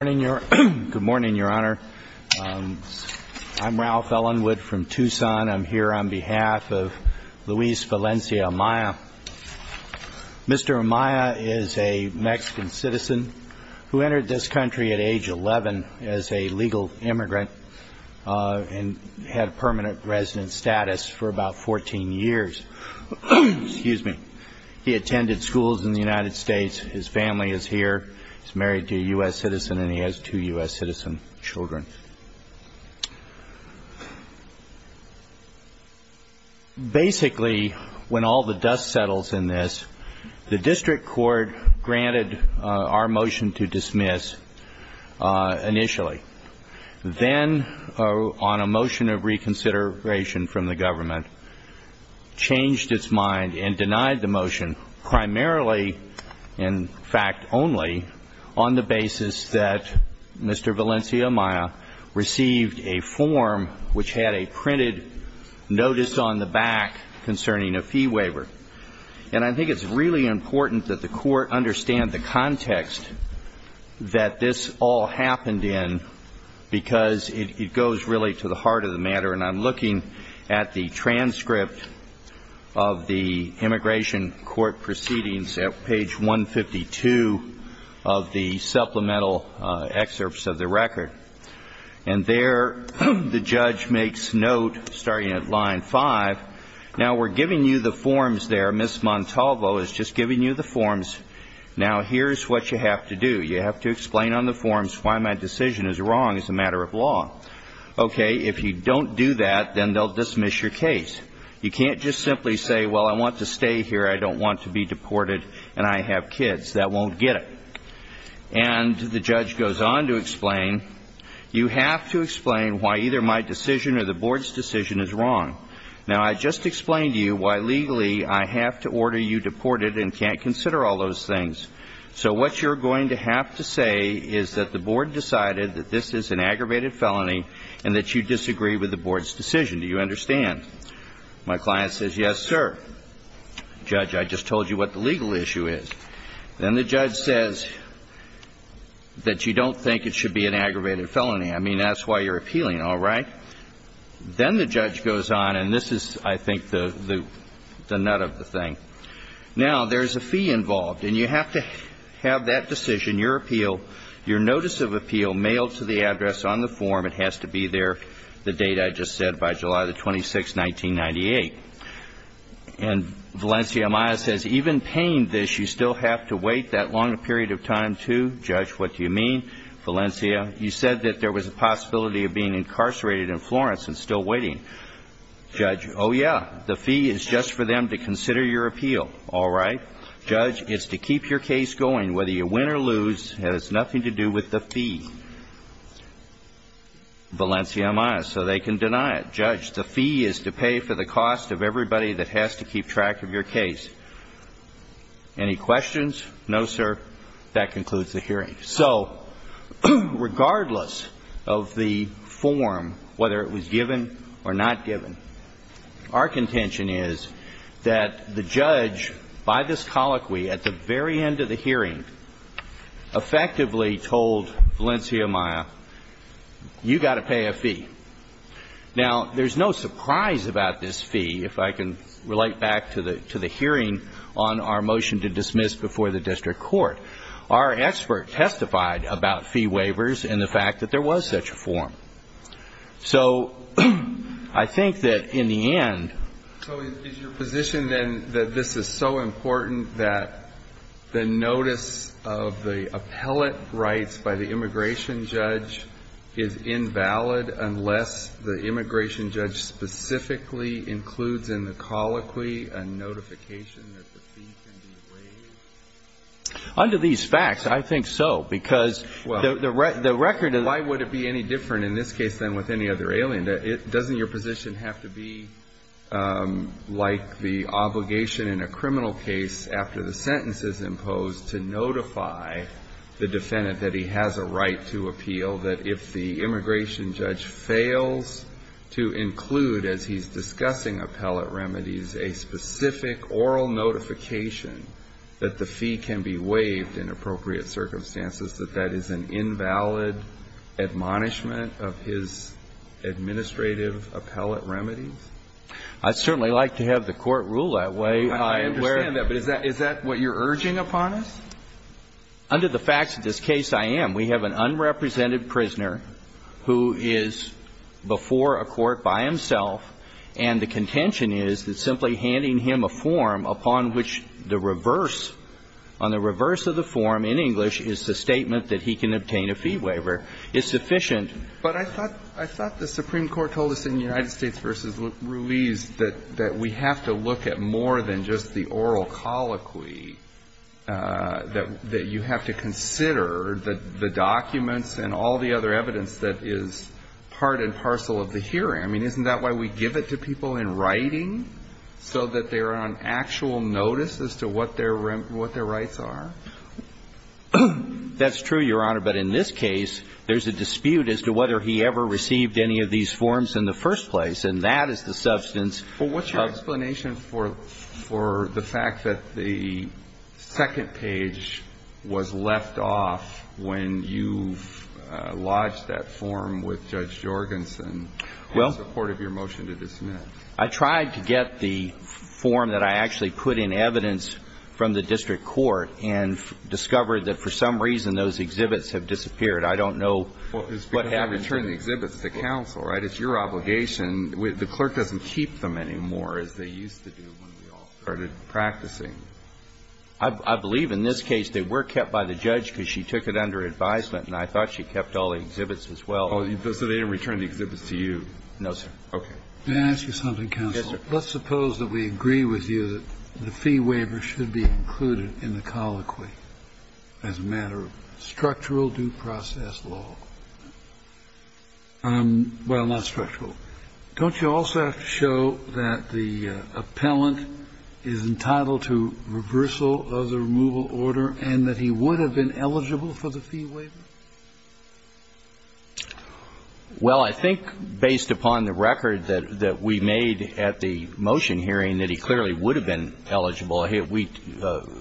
Good morning, your honor. I'm Ralph Ellenwood from Tucson. I'm here on behalf of Luis Valencia Amaya. Mr. Amaya is a Mexican citizen who entered this country at age 11 as a legal immigrant and had permanent resident status for about 14 years. He attended schools in the United States. His family is here. He's married to a U.S. citizen and he has two U.S. citizen children. Basically, when all the dust settles in this, the district court granted our motion to dismiss initially. Then, on a motion of reconsideration from the government, changed its mind and denied the motion primarily, in fact only, on the basis that Mr. Valencia Amaya received a form which had a printed notice on the back concerning a fee waiver. And I think it's really important that the court understand the context that this all happened in because it goes really to the heart of the matter. And I'm looking at the transcript of the immigration court proceedings at page 152 of the supplemental excerpts of the record. And there, the judge makes note, starting at line five, now we're giving you the forms there. Ms. Montalvo is just giving you the forms. Now, here's what you have to do. You have to explain on the forms why my decision is wrong as a matter of law. Okay, if you don't do that, then they'll dismiss your case. You can't just simply say, well, I want to stay here. I don't want to be deported and I have kids. That won't get it. And the judge goes on to explain, you have to explain why either my decision or the board's decision is wrong. Now, I just explained to you why legally I have to order you deported and can't consider all those things. So what you're going to have to say is that the board decided that this is an aggravated felony and that you disagree with the board's decision. Do you understand? My client says, yes, sir. Judge, I just told you what the legal issue is. Then the judge says that you don't think it should be an aggravated felony. I mean, that's why you're appealing, all right. Then the judge goes on, and this is, I think, the nut of the thing. Now, there's a fee involved, and you have to have that decision, your appeal, your notice of appeal, mailed to the address on the form. It has to be there, the date I just said, by July the 26th, 1998. And Valencia Maia says, even paying this, you still have to wait that long a period of time, too? Judge, what do you mean? Valencia, you said that there was a possibility of being incarcerated in Florence and still waiting. Judge, oh, yeah. The fee is just for them to consider your appeal, all right. Judge, it's to keep your case going. Whether you win or lose has nothing to do with the fee, Valencia Maia, so they can deny it. Judge, the fee is to pay for the cost of everybody that has to keep track of your case. Any questions? No, sir. That concludes the hearing. So regardless of the form, whether it was given or not given, our contention is that the judge, by this colloquy, at the very end of the hearing, effectively told Valencia Maia, you've got to pay a fee. Now, there's no surprise about this fee, if I can relate back to the hearing on our motion to dismiss before the district court. Our expert testified about fee waivers and the fact that there was such a form. So I think that in the end ---- So is your position, then, that this is so important that the notice of the appellate rights by the immigration judge is invalid unless the immigration judge specifically includes in the colloquy a notification that the fee can be waived? Under these facts, I think so, because the record is ---- Why would it be any different in this case than with any other alien? Doesn't your position have to be like the obligation in a criminal case after the sentence is imposed to notify the defendant that he has a right to appeal, that if the immigration judge fails to include, as he's discussing appellate remedies, a specific oral notification that the fee can be waived in appropriate circumstances, that that is an invalid admonishment of his administrative appellate remedies? I'd certainly like to have the Court rule that way. I understand that. But is that what you're urging upon us? Under the facts of this case, I am. We have an unrepresented prisoner who is before a court by himself, and the contention is that simply handing him a form upon which the reverse, on the reverse of the form in English, is the statement that he can obtain a fee waiver is sufficient. But I thought the Supreme Court told us in United States v. Ruiz that we have to look at more than just the oral colloquy, that you have to consider the documents and all the other evidence that is part and parcel of the hearing. I mean, isn't that why we give it to people in writing, so that they're on actual notice as to what their rights are? That's true, Your Honor. But in this case, there's a dispute as to whether he ever received any of these forms in the first place. And that is the substance. Well, what's your explanation for the fact that the second page was left off when you lodged that form with Judge Jorgensen in support of your motion to dismiss? I tried to get the form that I actually put in evidence from the district court and discovered that for some reason those exhibits have disappeared. I don't know what happened to them. Well, it's because you returned the exhibits to counsel, right? It's your obligation. The clerk doesn't keep them anymore as they used to do when we all started practicing. I believe in this case they were kept by the judge because she took it under advisement and I thought she kept all the exhibits as well. So they didn't return the exhibits to you? No, sir. Okay. May I ask you something, counsel? Yes, sir. Let's suppose that we agree with you that the fee waiver should be included in the colloquy as a matter of structural due process law. Well, not structural. Don't you also have to show that the appellant is entitled to reversal of the removal order and that he would have been eligible for the fee waiver? Well, I think based upon the record that we made at the motion hearing, that he clearly would have been eligible. We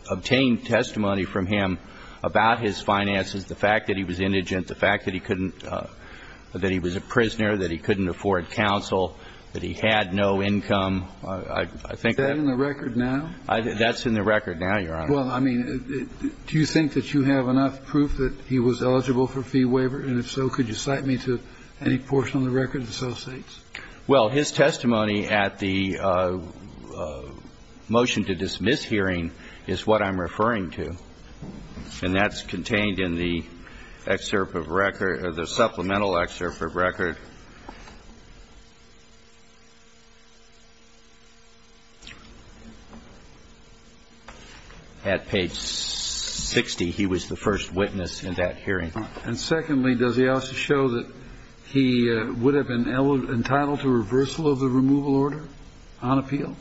obtained testimony from him about his finances, the fact that he was indigent, the fact that he couldn't – that he was a prisoner, that he couldn't afford counsel, that he had no income. Is that in the record now? That's in the record now, Your Honor. Well, I mean, do you think that you have enough proof that he was eligible for fee waiver? And if so, could you cite me to any portion of the record that associates? Well, his testimony at the motion to dismiss hearing is what I'm referring to, and that's contained in the excerpt of record – the supplemental excerpt of record. At page 60, he was the first witness in that hearing. And secondly, does he also show that he would have been entitled to reversal of the removal order on appeal?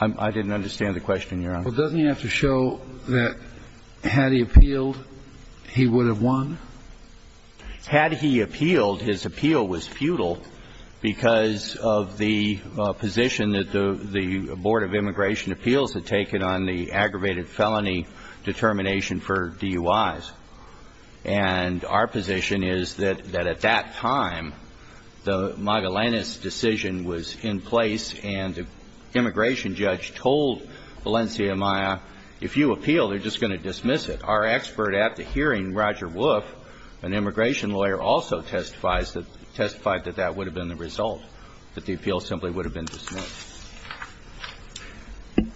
I didn't understand the question, Your Honor. Well, doesn't he have to show that had he appealed, he would have won? Had he appealed, his appeal was futile because of the position that the Board of Immigration Appeals had taken on the aggravated felony determination for DUIs. And our position is that at that time, the Magallanes decision was in place, and the immigration judge told Valencia Maya, if you appeal, they're just going to dismiss it. Our expert at the hearing, Roger Woof, an immigration lawyer, also testifies that – testified that that would have been the result, that the appeal simply would have been dismissed.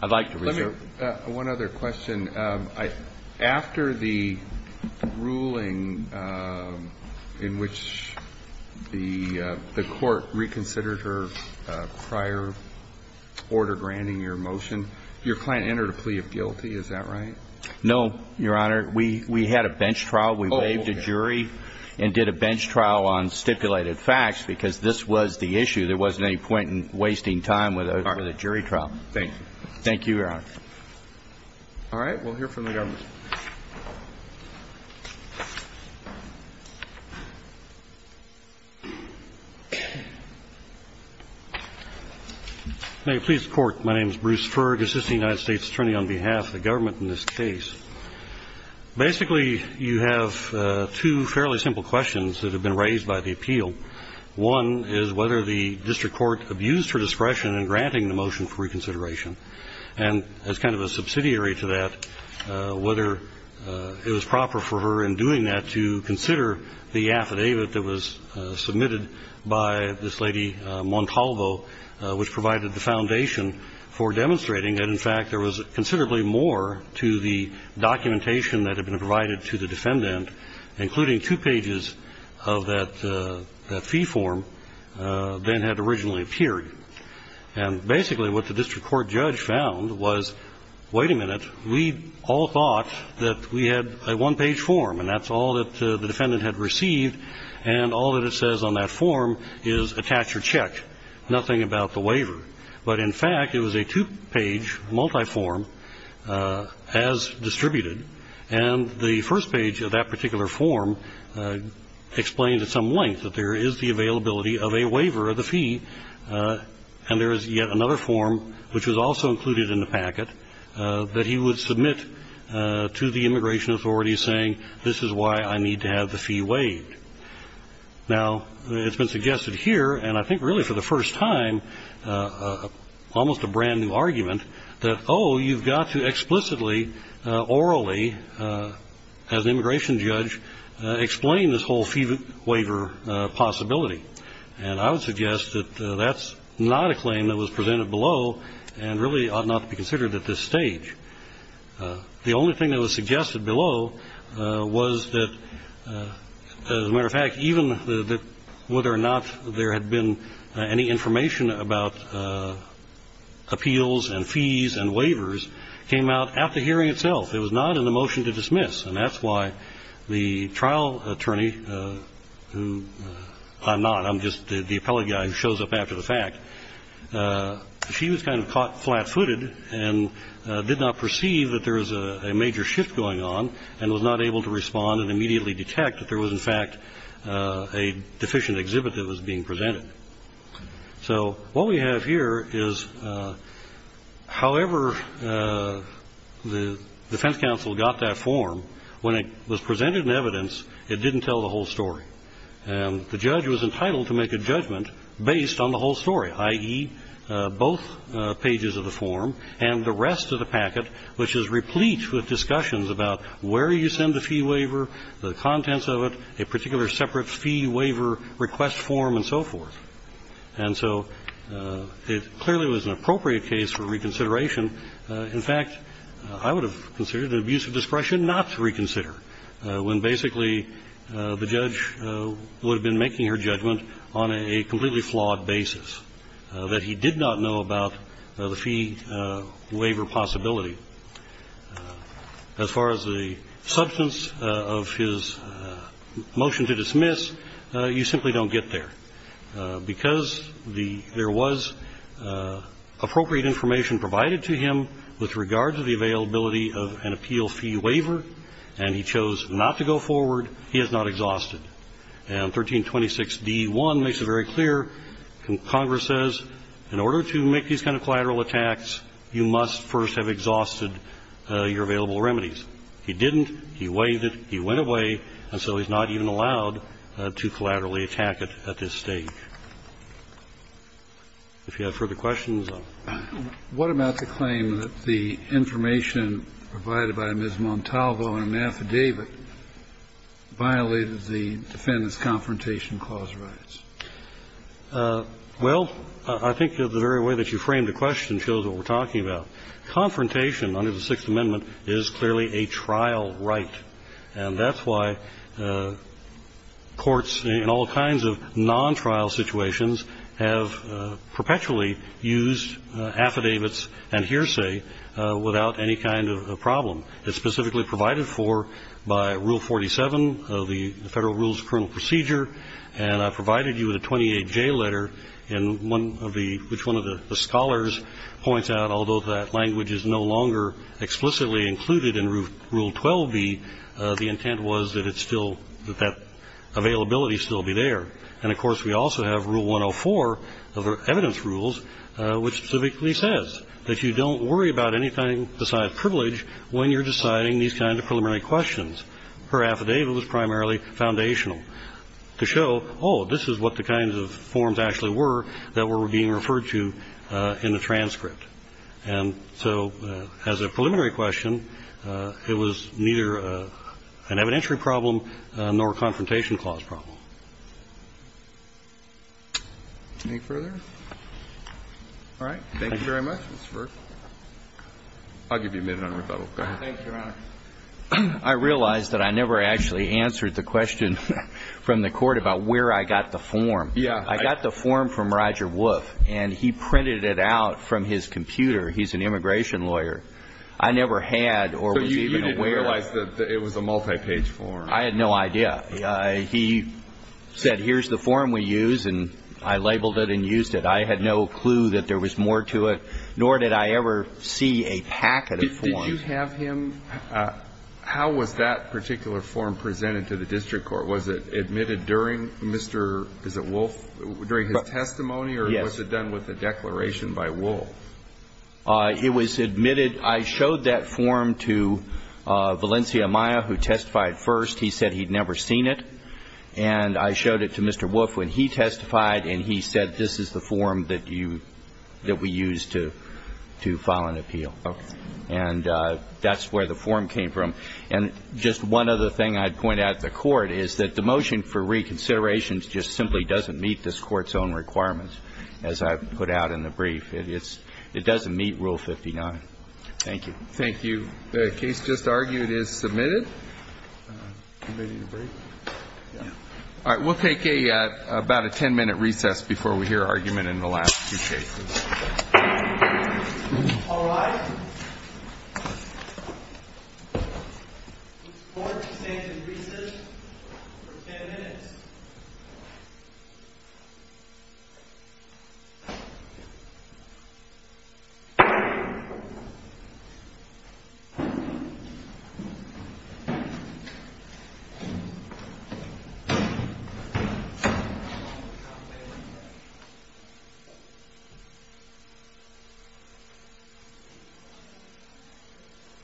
I'd like to reserve. Let me – one other question. After the ruling in which the court reconsidered her prior order granting your motion, your client entered a plea of guilty. Is that right? No, Your Honor. We had a bench trial. We waived a jury and did a bench trial on stipulated facts because this was the issue. There wasn't any point in wasting time with a jury trial. Thank you. Thank you, Your Honor. All right. We'll hear from the government. May it please the Court, my name is Bruce Ferg, assistant United States attorney on behalf of the government in this case. Basically, you have two fairly simple questions that have been raised by the appeal. One is whether the district court abused her discretion in granting the motion for as kind of a subsidiary to that, whether it was proper for her in doing that to consider the affidavit that was submitted by this lady Montalvo, which provided the foundation for demonstrating that, in fact, there was considerably more to the documentation that had been provided to the defendant, including two pages of that fee form than had originally appeared. And basically what the district court judge found was, wait a minute, we all thought that we had a one-page form, and that's all that the defendant had received, and all that it says on that form is attach or check, nothing about the waiver. But, in fact, it was a two-page multi-form as distributed, and the first page of that particular form explains at some length that there is the availability of a waiver of the fee, and there is yet another form, which was also included in the packet, that he would submit to the immigration authorities saying, this is why I need to have the fee waived. Now, it's been suggested here, and I think really for the first time, almost a brand new argument, that, oh, you've got to explicitly, orally, as an immigration judge, explain this whole fee waiver possibility. And I would suggest that that's not a claim that was presented below, and really ought not to be considered at this stage. The only thing that was suggested below was that, as a matter of fact, even that whether or not there had been any information about appeals and fees and waivers came out at the hearing itself. It was not in the motion to dismiss. And that's why the trial attorney, who I'm not, I'm just the appellate guy who shows up after the fact, she was kind of caught flat-footed and did not perceive that there was a major shift going on and was not able to respond and immediately detect that there was, in fact, a deficient exhibit that was being presented. So what we have here is, however the defense counsel got that form, when it was presented in evidence, it didn't tell the whole story. And the judge was entitled to make a judgment based on the whole story, i.e., both pages of the form and the rest of the packet, which is replete with discussions about where you send the fee waiver, the contents of it, a particular separate fee waiver request form and so forth. And so it clearly was an appropriate case for reconsideration. In fact, I would have considered it an abuse of discretion not to reconsider when basically the judge would have been making her judgment on a completely flawed basis, that he did not know about the fee waiver possibility. As far as the substance of his motion to dismiss, you simply don't get there. Because there was appropriate information provided to him with regard to the availability of an appeal fee waiver and he chose not to go forward, he is not exhausted. And 1326d.1 makes it very clear. Congress says in order to make these kind of collateral attacks, you must first have exhausted your available remedies. He didn't. He waived it. He went away. And so he's not even allowed to collaterally attack it at this stage. If you have further questions. Kennedy. What about the claim that the information provided by Ms. Montalvo in an affidavit violated the Defendant's Confrontation Clause rights? Well, I think the very way that you framed the question shows what we're talking about. Confrontation under the Sixth Amendment is clearly a trial right. And that's why courts in all kinds of non-trial situations have perpetually used affidavits and hearsay without any kind of problem. It's specifically provided for by Rule 47 of the Federal Rules of Criminal Procedure. And I provided you with a 28J letter, which one of the scholars points out, although that language is no longer explicitly included in Rule 12B, the intent was that that availability still be there. And, of course, we also have Rule 104 of evidence rules, which specifically says that you don't worry about anything besides privilege when you're deciding these kinds of preliminary questions. Her affidavit was primarily foundational. To show, oh, this is what the kinds of forms actually were that were being referred to in the transcript. And so as a preliminary question, it was neither an evidentiary problem nor a Confrontation Clause problem. Any further? All right. Thank you very much, Mr. Burke. I'll give you a minute on rebuttal. Go ahead. Thank you, Your Honor. I realize that I never actually answered the question from the Court about where I got the form. Yeah. I got the form from Roger Woof, and he printed it out from his computer. He's an immigration lawyer. I never had or was even aware. So you didn't realize that it was a multi-page form. I had no idea. He said, here's the form we use, and I labeled it and used it. I had no clue that there was more to it, nor did I ever see a packet of forms. Did you have him ---- how was that particular form presented to the district court? Was it admitted during Mr. ---- is it Woof? During his testimony? Yes. Or was it done with a declaration by Woof? It was admitted. I showed that form to Valencia Maya, who testified first. He said he'd never seen it. And I showed it to Mr. Woof when he testified, and he said this is the form that you ---- that we use to file an appeal. Okay. And that's where the form came from. And just one other thing I'd point out to the Court is that the motion for reconsideration just simply doesn't meet this Court's own requirements, as I put out in the brief. It's ---- it doesn't meet Rule 59. Thank you. Thank you. The case just argued is submitted. All right. We'll take a ---- about a 10-minute recess before we hear argument in the last two cases. All right. The Court is taking recess for 10 minutes. The Court is adjourned.